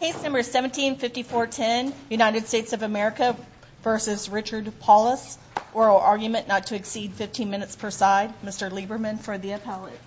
Case number 17-5410, United States of America v. Richard Paulus. Oral argument not to exceed 15 minutes per side. Mr. Lieberman for the appellate.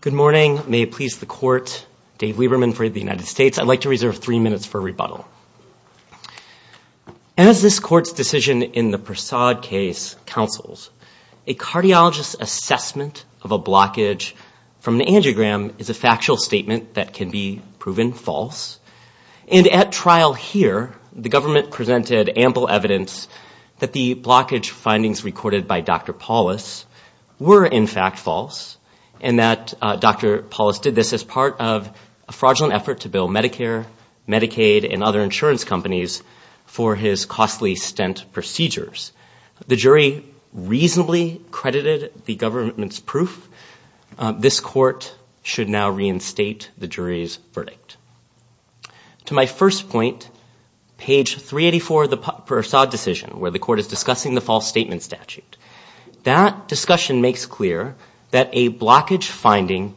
Good morning. May it please the court. Dave Lieberman for the United States. I'd like to reserve three minutes for rebuttal. As this court's decision in the Persaud case counsels, a cardiologist's assessment of a blockage from an angiogram is a factual statement that can be proven false. And at trial here, the government presented ample evidence that the blockage findings recorded by Dr. Paulus were in fact false. And that Dr. Paulus did this as part of a fraudulent effort to bill Medicare, Medicaid, and other insurance companies for his costly stent procedures. The jury reasonably credited the government's proof. This court should now reinstate the jury's verdict. To my first point, page 384 of the Persaud decision where the court is discussing the false statement statute. That discussion makes clear that a blockage finding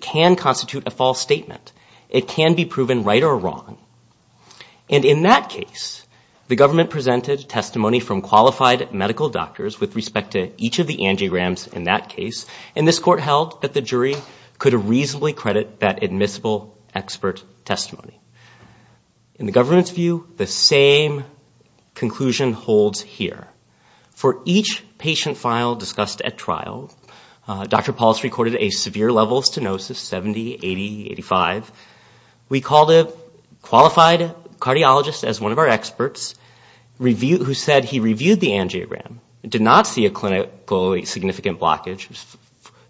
can constitute a false statement. It can be proven right or wrong. And in that case, the government presented testimony from qualified medical doctors with respect to each of the angiograms in that case. And this court held that the jury could reasonably credit that admissible expert testimony. In the government's view, the same conclusion holds here. For each patient file discussed at trial, Dr. Paulus recorded a severe level stenosis, 70, 80, 85. We called a qualified cardiologist as one of our experts who said he reviewed the angiogram, did not see a clinically significant blockage.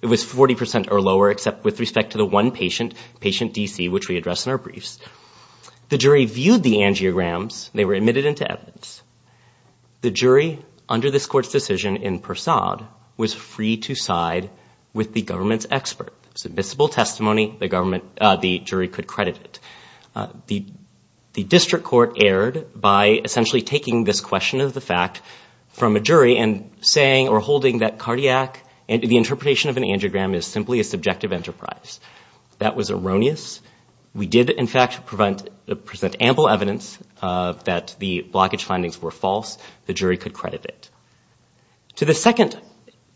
It was 40% or lower except with respect to the one patient, patient DC, which we address in our briefs. The jury viewed the angiograms. They were admitted into evidence. The jury under this court's decision in Persaud was free to side with the government's expert. Submissible testimony, the jury could credit it. The district court erred by essentially taking this question of the fact from a jury and saying or holding that cardiac, the interpretation of an angiogram is simply a subjective enterprise. That was erroneous. We did, in fact, present ample evidence that the blockage findings were false. The jury could credit it. To the second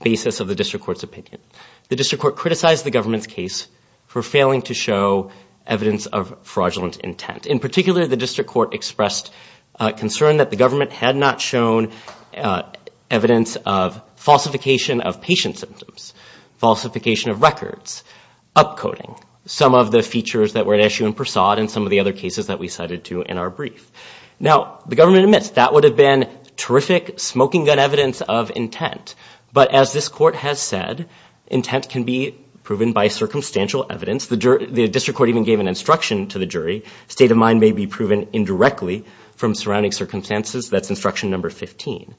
basis of the district court's opinion, the district court criticized the government's case for failing to show evidence of fraudulent intent. In particular, the district court expressed concern that the government had not shown evidence of falsification of patient symptoms, falsification of records, upcoding, some of the features that were at issue in Persaud and some of the other cases that we cited to in our brief. Now, the government admits that would have been terrific smoking gun evidence of intent. But as this court has said, intent can be proven by circumstantial evidence. The district court even gave an instruction to the jury, state of mind may be proven indirectly from surrounding circumstances. That's instruction number 15.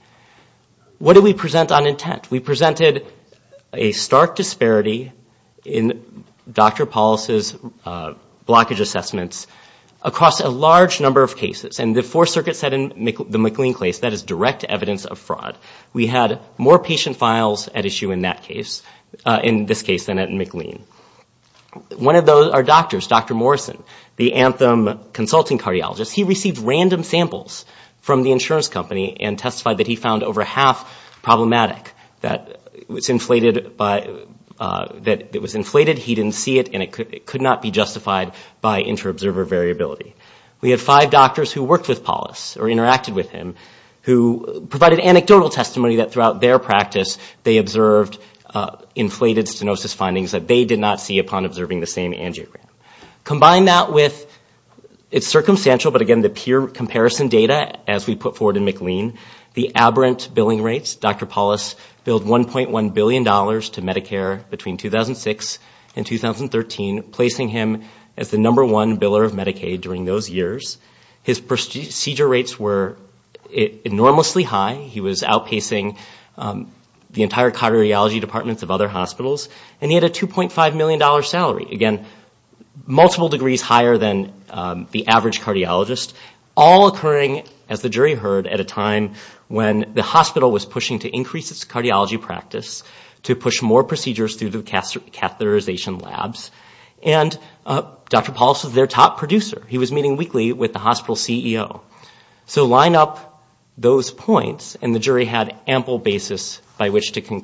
What did we present on intent? We presented a stark disparity in Dr. Paulos' blockage assessments across a large number of cases. And the Fourth Circuit said in the McLean case that is direct evidence of fraud. We had more patient files at issue in that case, in this case than at McLean. One of those are doctors, Dr. Morrison, the Anthem consulting cardiologist. He received random samples from the insurance company and testified that he found over half problematic. That it was inflated, he didn't see it, and it could not be justified by inter-observer variability. We had five doctors who worked with Paulos or interacted with him who provided anecdotal testimony that throughout their practice, they observed inflated stenosis findings that they did not see upon observing the same angiogram. Combine that with, it's circumstantial, but again, the peer comparison data as we put forward in McLean, the aberrant billing rates. Dr. Paulos billed $1.1 billion to Medicare between 2006 and 2013, placing him as the number one biller of Medicaid during those years. His procedure rates were enormously high. He was outpacing the entire cardiology departments of other hospitals. And he had a $2.5 million salary, again, multiple degrees higher than the average cardiologist. All occurring, as the jury heard, at a time when the hospital was pushing to increase its cardiology practice, to push more procedures through the catheterization labs. And Dr. Paulos was their top producer. He was meeting weekly with the hospital CEO. So line up those points, and the jury had ample basis by which to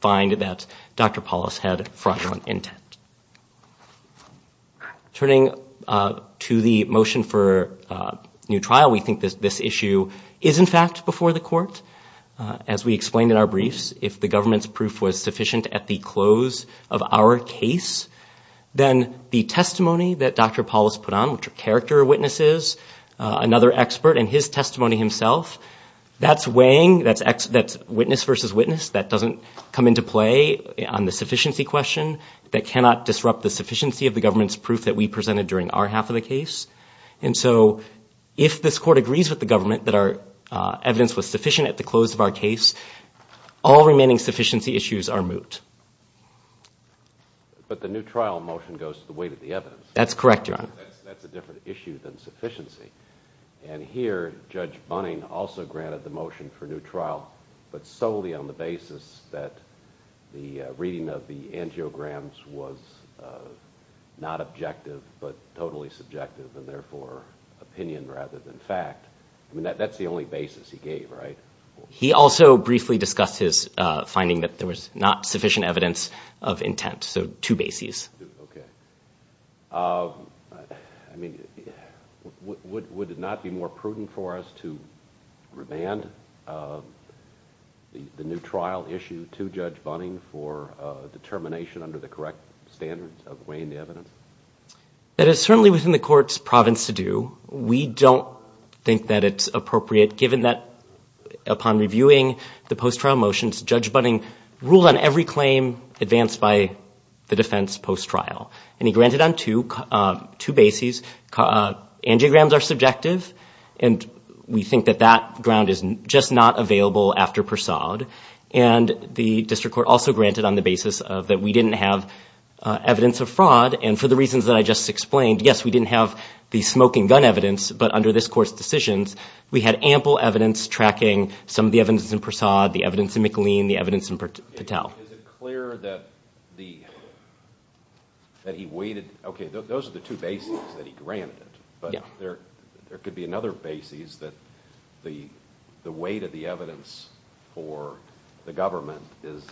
find that Dr. Paulos had fraudulent intent. Turning to the motion for new trial, we think that this issue is, in fact, before the court. As we explained in our briefs, if the government's proof was sufficient at the close of our case, then the testimony that Dr. Paulos put on, which are character witnesses, another expert, and his testimony himself, that's weighing, that's witness versus witness, that doesn't come into play on the sufficiency question, that cannot disrupt the sufficiency of the government's proof that we presented during our half of the case. And so if this court agrees with the government that our evidence was sufficient at the close of our case, all remaining sufficiency issues are moot. But the new trial motion goes to the weight of the evidence. That's correct, Your Honor. That's a different issue than sufficiency. And here, Judge Bunning also granted the motion for new trial, but solely on the basis that the reading of the angiograms was not objective, but totally subjective, and therefore opinion rather than fact. I mean, that's the only basis he gave, right? He also briefly discussed his finding that there was not sufficient evidence of intent, so two bases. Okay. I mean, would it not be more prudent for us to remand the new trial issue to Judge Bunning for determination under the correct standards of weighing the evidence? That is certainly within the court's province to do. We don't think that it's appropriate, given that upon reviewing the post-trial motions, Judge Bunning ruled on every claim advanced by the defense post-trial. And he granted on two bases. Angiograms are subjective, and we think that that ground is just not available after Persaud. And the district court also granted on the basis that we didn't have evidence of fraud, and for the reasons that I just explained, yes, we didn't have the smoking gun evidence, but under this court's decisions, we had ample evidence tracking some of the evidence in Persaud, the evidence in McLean, the evidence in Patel. Is it clear that he weighted? Okay, those are the two bases that he granted, but there could be another basis that the weight of the evidence for the government is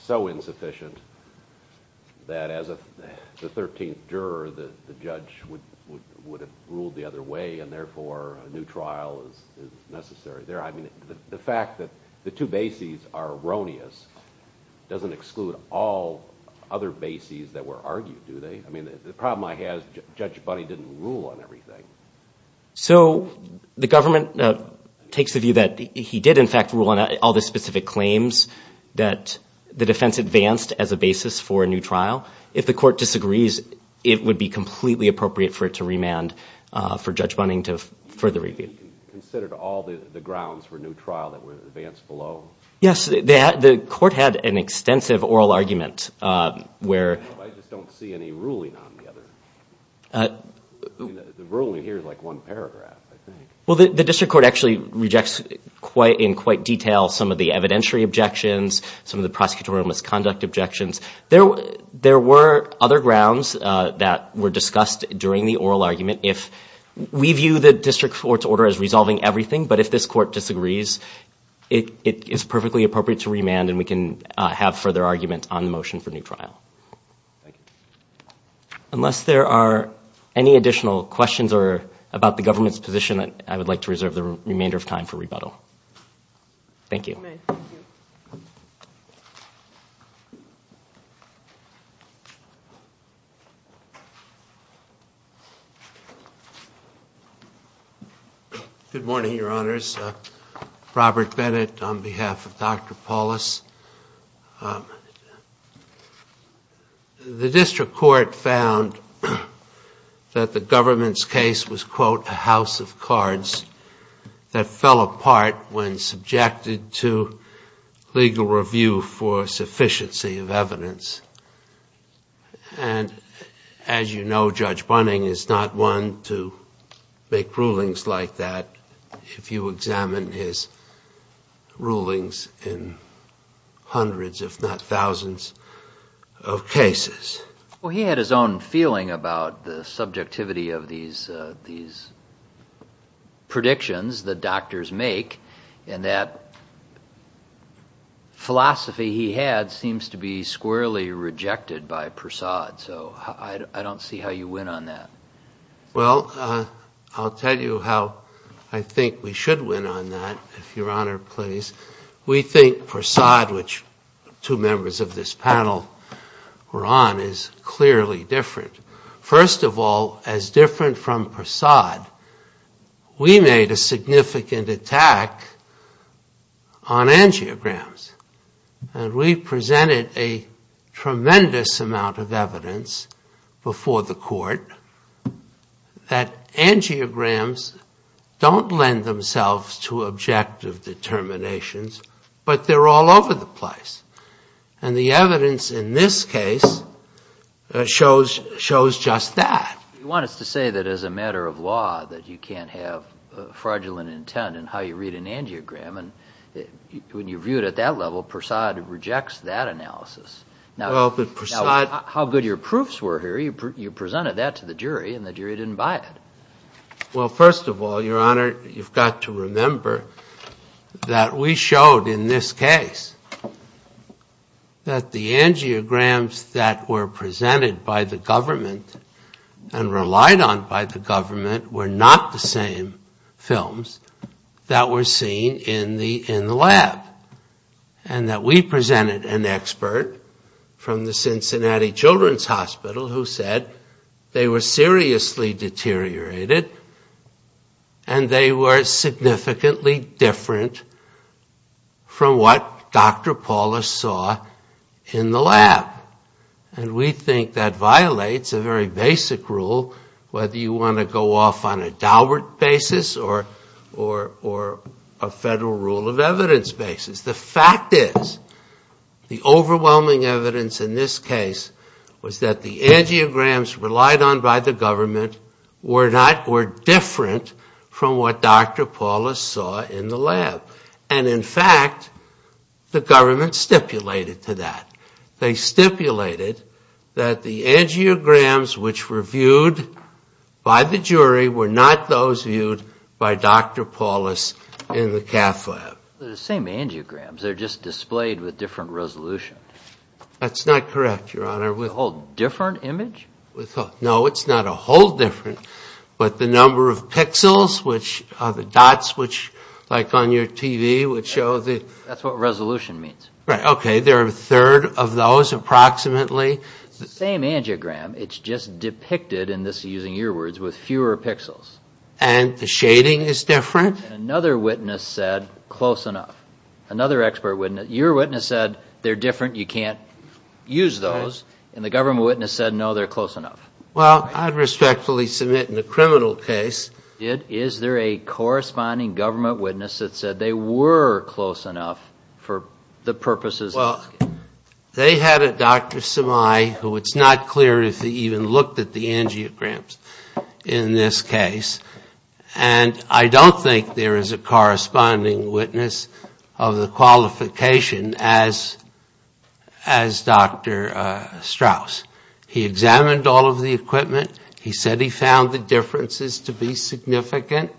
so insufficient that as the 13th juror, the judge would have ruled the other way, and therefore a new trial is necessary. I mean, the fact that the two bases are erroneous doesn't exclude all other bases that were argued, do they? I mean, the problem I have is Judge Bunning didn't rule on everything. So the government takes the view that he did, in fact, rule on all the specific claims that the defense advanced as a basis for a new trial. If the court disagrees, it would be completely appropriate for it to remand for Judge Bunning to further review. He considered all the grounds for a new trial that were advanced below? Yes. The court had an extensive oral argument where— I just don't see any ruling on the other. The ruling here is like one paragraph, I think. Well, the district court actually rejects in quite detail some of the evidentiary objections, some of the prosecutorial misconduct objections. There were other grounds that were discussed during the oral argument. We view the district court's order as resolving everything, but if this court disagrees, it is perfectly appropriate to remand and we can have further argument on the motion for a new trial. Unless there are any additional questions about the government's position, I would like to reserve the remainder of time for rebuttal. Thank you. Good morning, Your Honors. Robert Bennett on behalf of Dr. Paulus. The district court found that the government's case was, quote, a house of cards that fell apart when subjected to legal review for sufficiency of evidence. And as you know, Judge Bunning is not one to make rulings like that. If you examine his rulings in hundreds, if not thousands of cases. Well, he had his own feeling about the subjectivity of these predictions that doctors make and that philosophy he had seems to be squarely rejected by Persaud. So I don't see how you win on that. Well, I'll tell you how I think we should win on that, if Your Honor please. We think Persaud, which two members of this panel were on, is clearly different. First of all, as different from Persaud, we made a significant attack on angiograms and we presented a tremendous amount of evidence before the court that angiograms don't lend themselves to objective determinations, but they're all over the place. And the evidence in this case shows just that. You want us to say that as a matter of law that you can't have fraudulent intent in how you read an angiogram and when you view it at that level, Persaud rejects that analysis. Now, how good your proofs were here, you presented that to the jury and the jury didn't buy it. Well, first of all, Your Honor, you've got to remember that we showed in this case that the angiograms that were presented by the government and relied on by the government were not the same films that were seen in the lab. And that we presented an expert from the Cincinnati Children's Hospital who said they were seriously deteriorated and they were significantly different from what Dr. Paulus saw in the lab. And we think that violates a very basic rule whether you want to go off on a Daubert basis or a federal rule of evidence basis. The fact is the overwhelming evidence in this case was that the angiograms relied on by the government were different from what Dr. Paulus saw in the lab. And in fact, the government stipulated to that. They stipulated that the angiograms which were viewed by the jury were not those viewed by Dr. Paulus in the cath lab. The same angiograms, they're just displayed with different resolution. That's not correct, Your Honor. A whole different image? No, it's not a whole different, but the number of pixels which are the dots which like on your TV would show. That's what resolution means. Okay, there are a third of those approximately. It's the same angiogram, it's just depicted in this using your words with fewer pixels. And the shading is different? Another witness said close enough. Another expert witness, your witness said they're different, you can't use those. And the government witness said no, they're close enough. Well, I'd respectfully submit in the criminal case. Is there a corresponding government witness that said they were close enough for the purposes of this case? Well, they had a Dr. Semai who it's not clear if he even looked at the angiograms in this case. And I don't think there is a corresponding witness of the qualification as Dr. Strauss. He examined all of the equipment, he said he found the differences to be significant.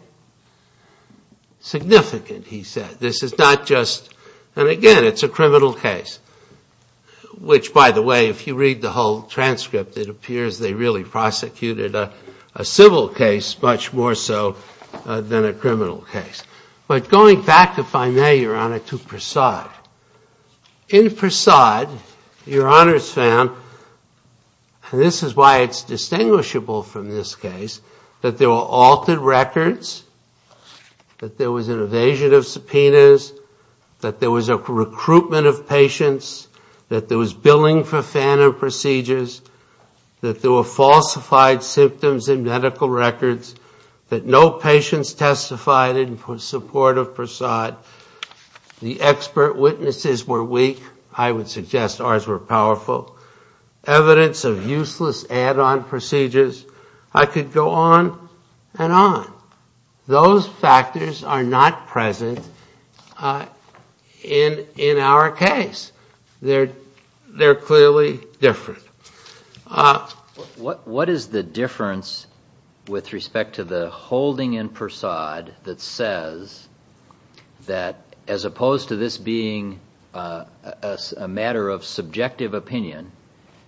Significant, he said. This is not just, and again, it's a criminal case, which by the way, if you read the whole transcript, it appears they really prosecuted a civil case much more so than a criminal case. But going back, if I may, Your Honor, to Prasad. In Prasad, Your Honor's found, and this is why it's distinguishable from this case, that there were altered records, that there was an evasion of subpoenas, that there was a recruitment of patients, that there was billing for FANA procedures, that there were falsified symptoms in medical records, that no patients testified in support of Prasad, the expert witnesses were weak, I would suggest ours were powerful, evidence of useless add-on procedures. I could go on and on. Those factors are not present in our case. They're clearly different. What is the difference with respect to the holding in Prasad that says that, as opposed to this being a matter of subjective opinion,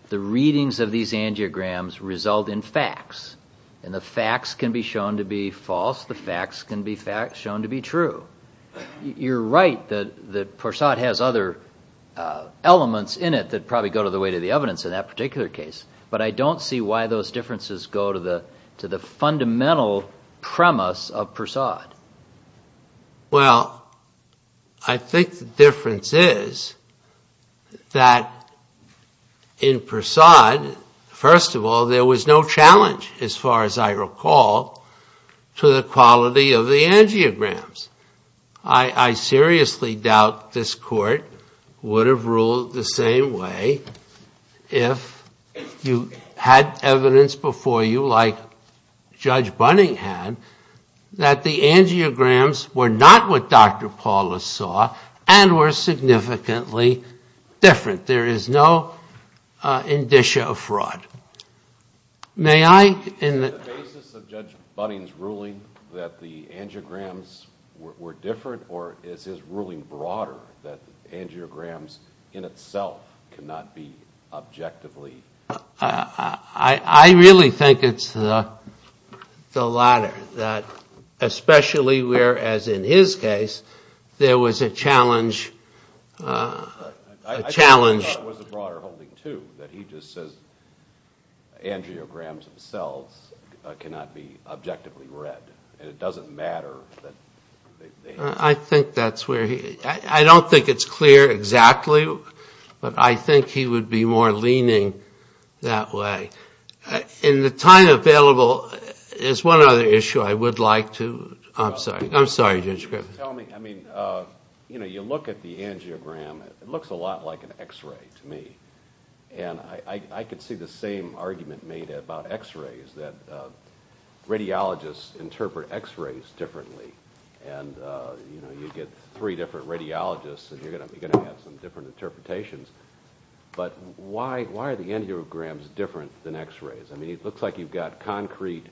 the readings of these angiograms result in facts, and the facts can be shown to be false, the facts can be shown to be true? You're right that Prasad has other elements in it that probably go to the weight of the evidence in that particular case, but I don't see why those differences go to the fundamental premise of Prasad. Well, I think the difference is that in Prasad, first of all, there was no challenge, as far as I recall, to the quality of the angiograms. I seriously doubt this Court would have ruled the same way if you had evidence before you, like Judge Bunning had, that the angiograms were not what Dr. Paulus saw and were significantly different. Is the basis of Judge Bunning's ruling that the angiograms were different, or is his ruling broader, that angiograms in itself cannot be objectively different? I really think it's the latter, especially where, as in his case, there was a challenge. I thought it was a broader holding, too, that he just says angiograms themselves cannot be objectively read, and it doesn't matter. I don't think it's clear exactly, but I think he would be more leaning that way. In the time available, there's one other issue I would like to... You look at the angiogram, it looks a lot like an x-ray to me. I could see the same argument made about x-rays, that radiologists interpret x-rays differently. You get three different radiologists, and you're going to have some different interpretations, but why are the angiograms different than x-rays? I mean, it looks like you've got concrete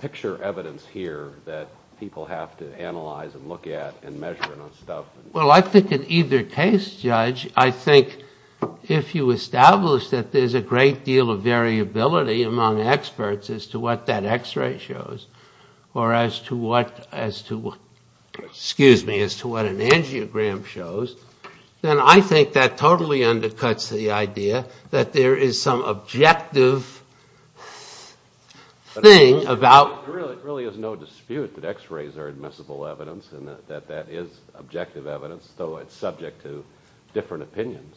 picture evidence here that people have to analyze and look at and measure and stuff. Well, I think in either case, Judge, I think if you establish that there's a great deal of variability among experts as to what that x-ray shows, or as to what an angiogram shows, then I think that totally undercuts the idea that there is some objective thing about... It really is no dispute that x-rays are admissible evidence, and that that is objective evidence, though it's subject to different opinions.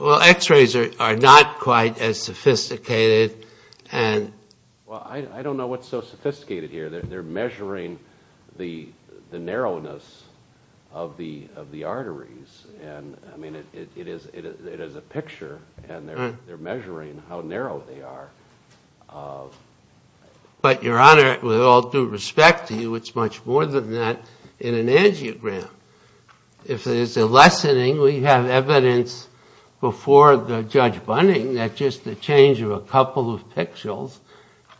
Well, x-rays are not quite as sophisticated. I don't know what's so sophisticated here. They're measuring the narrowness of the arteries, and it is a picture, and they're measuring how narrow they are. But, Your Honor, with all due respect to you, it's much more than that in an angiogram. If there's a lessening, we have evidence before Judge Bunning that just a change of a couple of pixels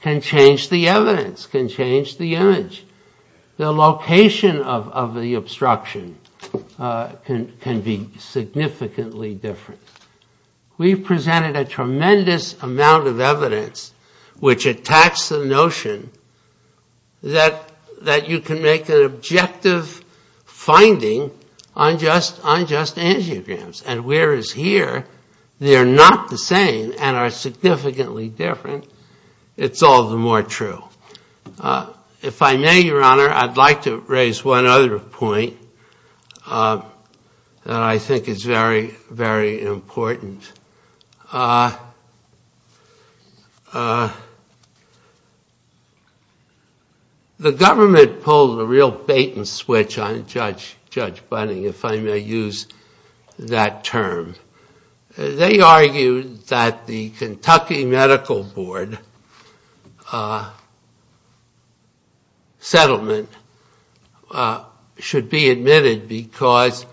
can change the evidence, can change the image. The location of the obstruction can be significantly different. We've presented a tremendous amount of evidence which attacks the notion that you can make an objective finding on just angiograms, and whereas here they're not the same and are significantly different, it's all the more true. If I may, Your Honor, I'd like to raise one other point that I think is very, very important. The government pulled a real bait-and-switch on Judge Bunning, if I may use that term. They argued that the Kentucky Medical Board settlement should be admitted because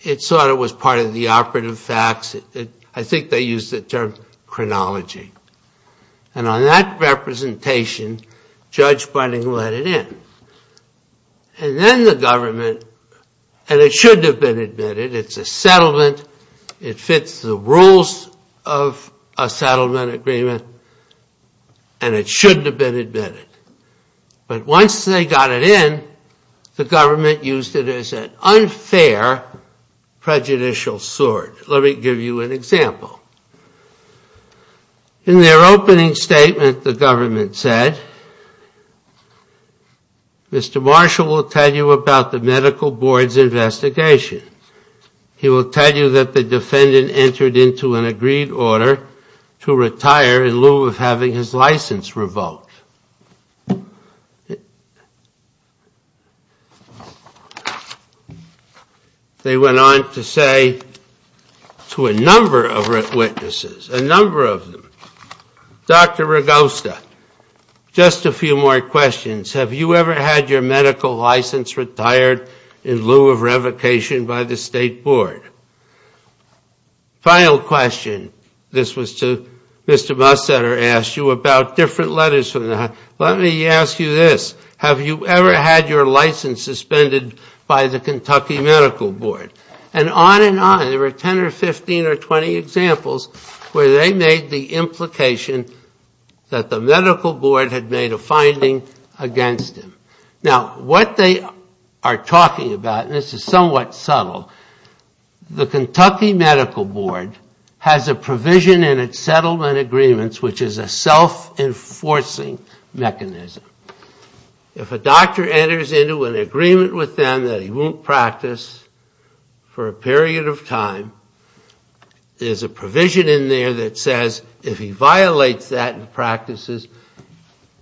it sort of was part of the operative facts. I think they used the term chronology. And on that representation, Judge Bunning let it in. And then the government, and it shouldn't have been admitted, it's a settlement, it fits the rules of a settlement agreement, and it shouldn't have been admitted. But once they got it in, the government used it as an unfair prejudicial sword. Let me give you an example. In their opening statement, the government said, Mr. Marshall will tell you about the Medical Board's investigation. He will tell you that the defendant entered into an agreed order to retire in lieu of having his license revoked. They went on to say to a number of witnesses, a number of them, Dr. Ragosta, just a few more questions. Have you ever had your medical license retired in lieu of revocation by the State Board? Final question. This was to Mr. Mussetter asked you about different letters. Let me ask you this, have you ever had your license suspended by the Kentucky Medical Board? And on and on, there were 10 or 15 or 20 examples where they made the implication that the Medical Board had made a finding against him. Now, what they are talking about, and this is somewhat subtle, the Kentucky Medical Board has a provision in its settlement agreements which is a self-enforcing mechanism. If a doctor enters into an agreement with them that he won't practice for a period of time, there's a provision in there that says if he violates that in practices,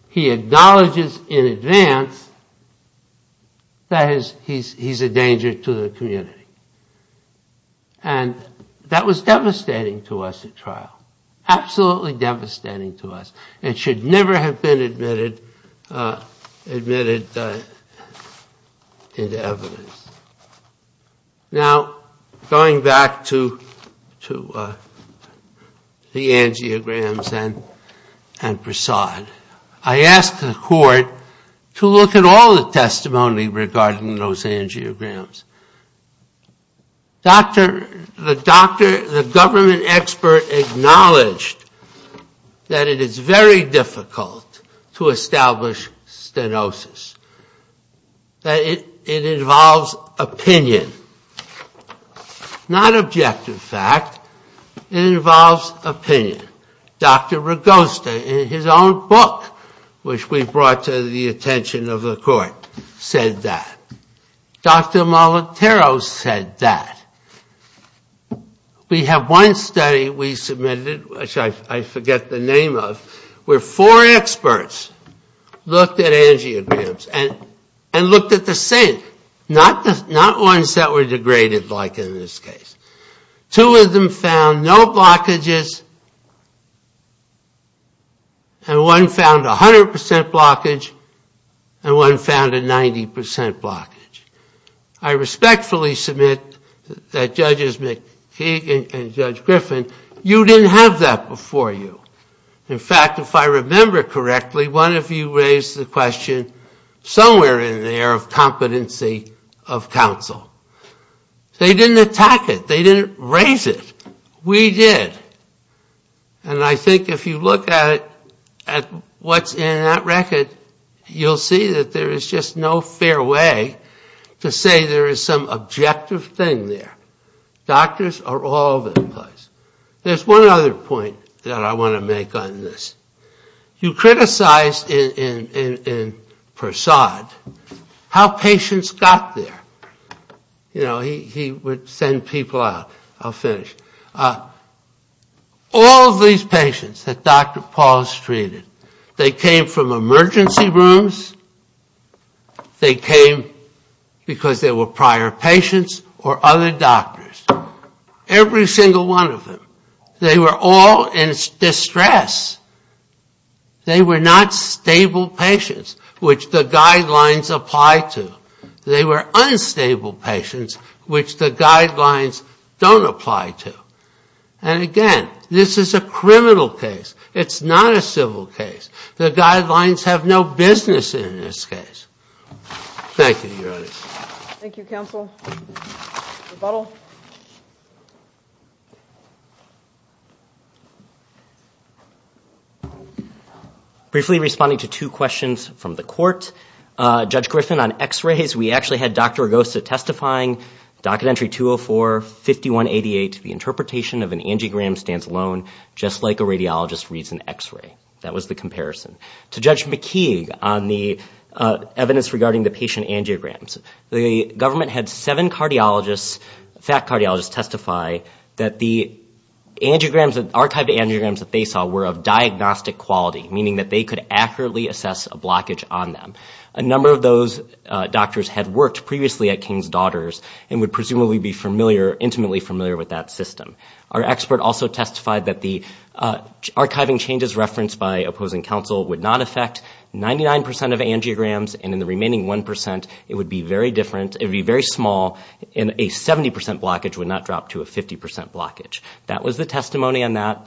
he acknowledges in advance that he's a danger to the community. And that was devastating to us at trial, absolutely devastating to us. It should never have been admitted into evidence. Now, going back to the angiograms and Prasad, I asked the Court to look at all the testimony regarding those angiograms. The government expert acknowledged that it is very difficult to establish stenosis, that it involves opinion. Not objective fact, it involves opinion. Dr. Rogosta in his own book, which we brought to the attention of the Court, said that. Dr. Molitoro said that. We have one study we submitted, which I forget the name of, where four experts looked at angiograms and looked at the same, not ones that were degraded like in this case. Two of them found no blockages, and one found 100 percent blockage, and one found a 90 percent blockage. I respectfully submit that Judges McKeague and Judge Griffin, you didn't have that before you. In fact, if I remember correctly, one of you raised the question somewhere in there of competency of counsel. They didn't attack it. They didn't raise it. We did. And I think if you look at it, at what's in that record, you'll see that there is just no fair way to say there is some objective thing there. Doctors are all that applies. There's one other point that I want to make on this. You criticized in Persaud how patients got there. You know, he would send people out. I'll finish. All of these patients that Dr. Pauls treated, they came from emergency rooms, they came because they were prior patients or other doctors. Every single one of them, they were all in distress. They were not stable patients, which the guidelines apply to. They were unstable patients, which the guidelines don't apply to. And again, this is a criminal case. It's not a civil case. The guidelines have no business in this case. Thank you. Thank you, counsel. Briefly responding to two questions from the court. Judge Griffin, on x-rays, we actually had Dr. Argosa testifying. Documentary 204-5188, the interpretation of an angiogram stands alone, just like a radiologist reads an x-ray. That was the comparison. To Judge McKeague on the evidence regarding the patient angiograms. The government had seven cardiologists, fact cardiologists, testify that the angiograms, archived angiograms that they saw were of diagnostic quality, meaning that they could accurately assess a blockage on them. A number of those doctors had worked previously at King's Daughters and would presumably be familiar, intimately familiar with that system. Our expert also testified that the archiving changes referenced by opposing counsel would not affect 99 percent of angiograms, and in the remaining 1 percent it would be very different, it would be very small, and a 70 percent blockage would not drop to a 50 percent blockage. That was the testimony on that.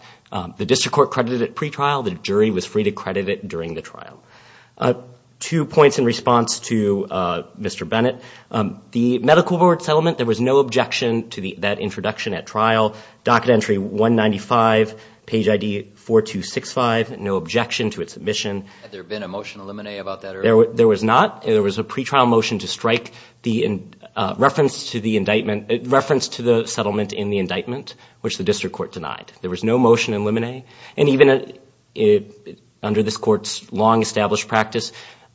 Two points in response to Mr. Bennett. The medical board settlement, there was no objection to that introduction at trial. Docket entry 195, page ID 4265, no objection to its submission. Had there been a motion in limine about that earlier? There was not. There was a pretrial motion to strike reference to the settlement in the indictment, which the district court denied. There was no motion in limine, and even under this court's long-established practice,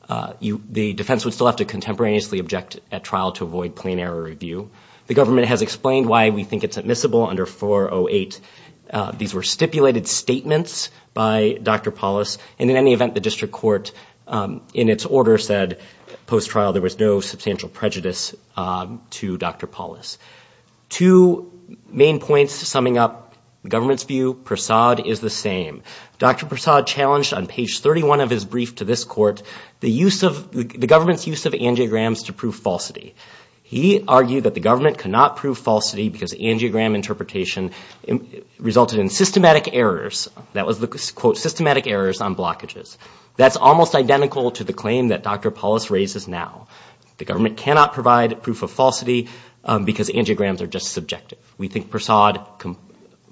the defense would still have to contemporaneously object at trial to avoid plain error review. The government has explained why we think it's admissible under 408. These were stipulated statements by Dr. Paulus, and in any event the district court, in its order, said post-trial there was no substantial prejudice to Dr. Paulus. Two main points, summing up the government's view. Prasad is the same. Dr. Prasad challenged on page 31 of his brief to this court the government's use of angiograms to prove falsity. He argued that the government could not prove falsity because angiogram interpretation resulted in systematic errors. That was the quote, systematic errors on blockages. That's almost identical to the claim that Dr. Paulus raises now. The government cannot provide proof of falsity because angiograms are just subjective. We think Prasad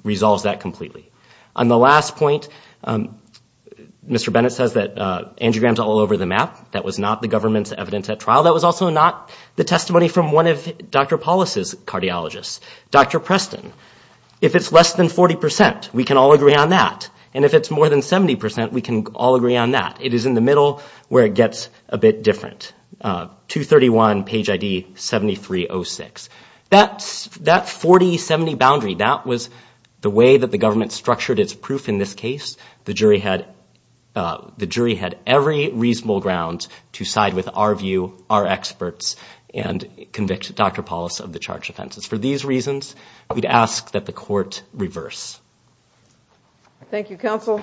resolves that completely. On the last point, Mr. Bennett says that angiograms are all over the map. Well, that was also not the testimony from one of Dr. Paulus' cardiologists. Dr. Preston, if it's less than 40%, we can all agree on that. And if it's more than 70%, we can all agree on that. It is in the middle where it gets a bit different. 231, page ID 7306. That 40-70 boundary, that was the way that the government structured its proof in this case. The jury had every reasonable ground to side with our view, our experts, and convict Dr. Paulus of the charged offenses. For these reasons, we'd ask that the court reverse. Thank you, counsel.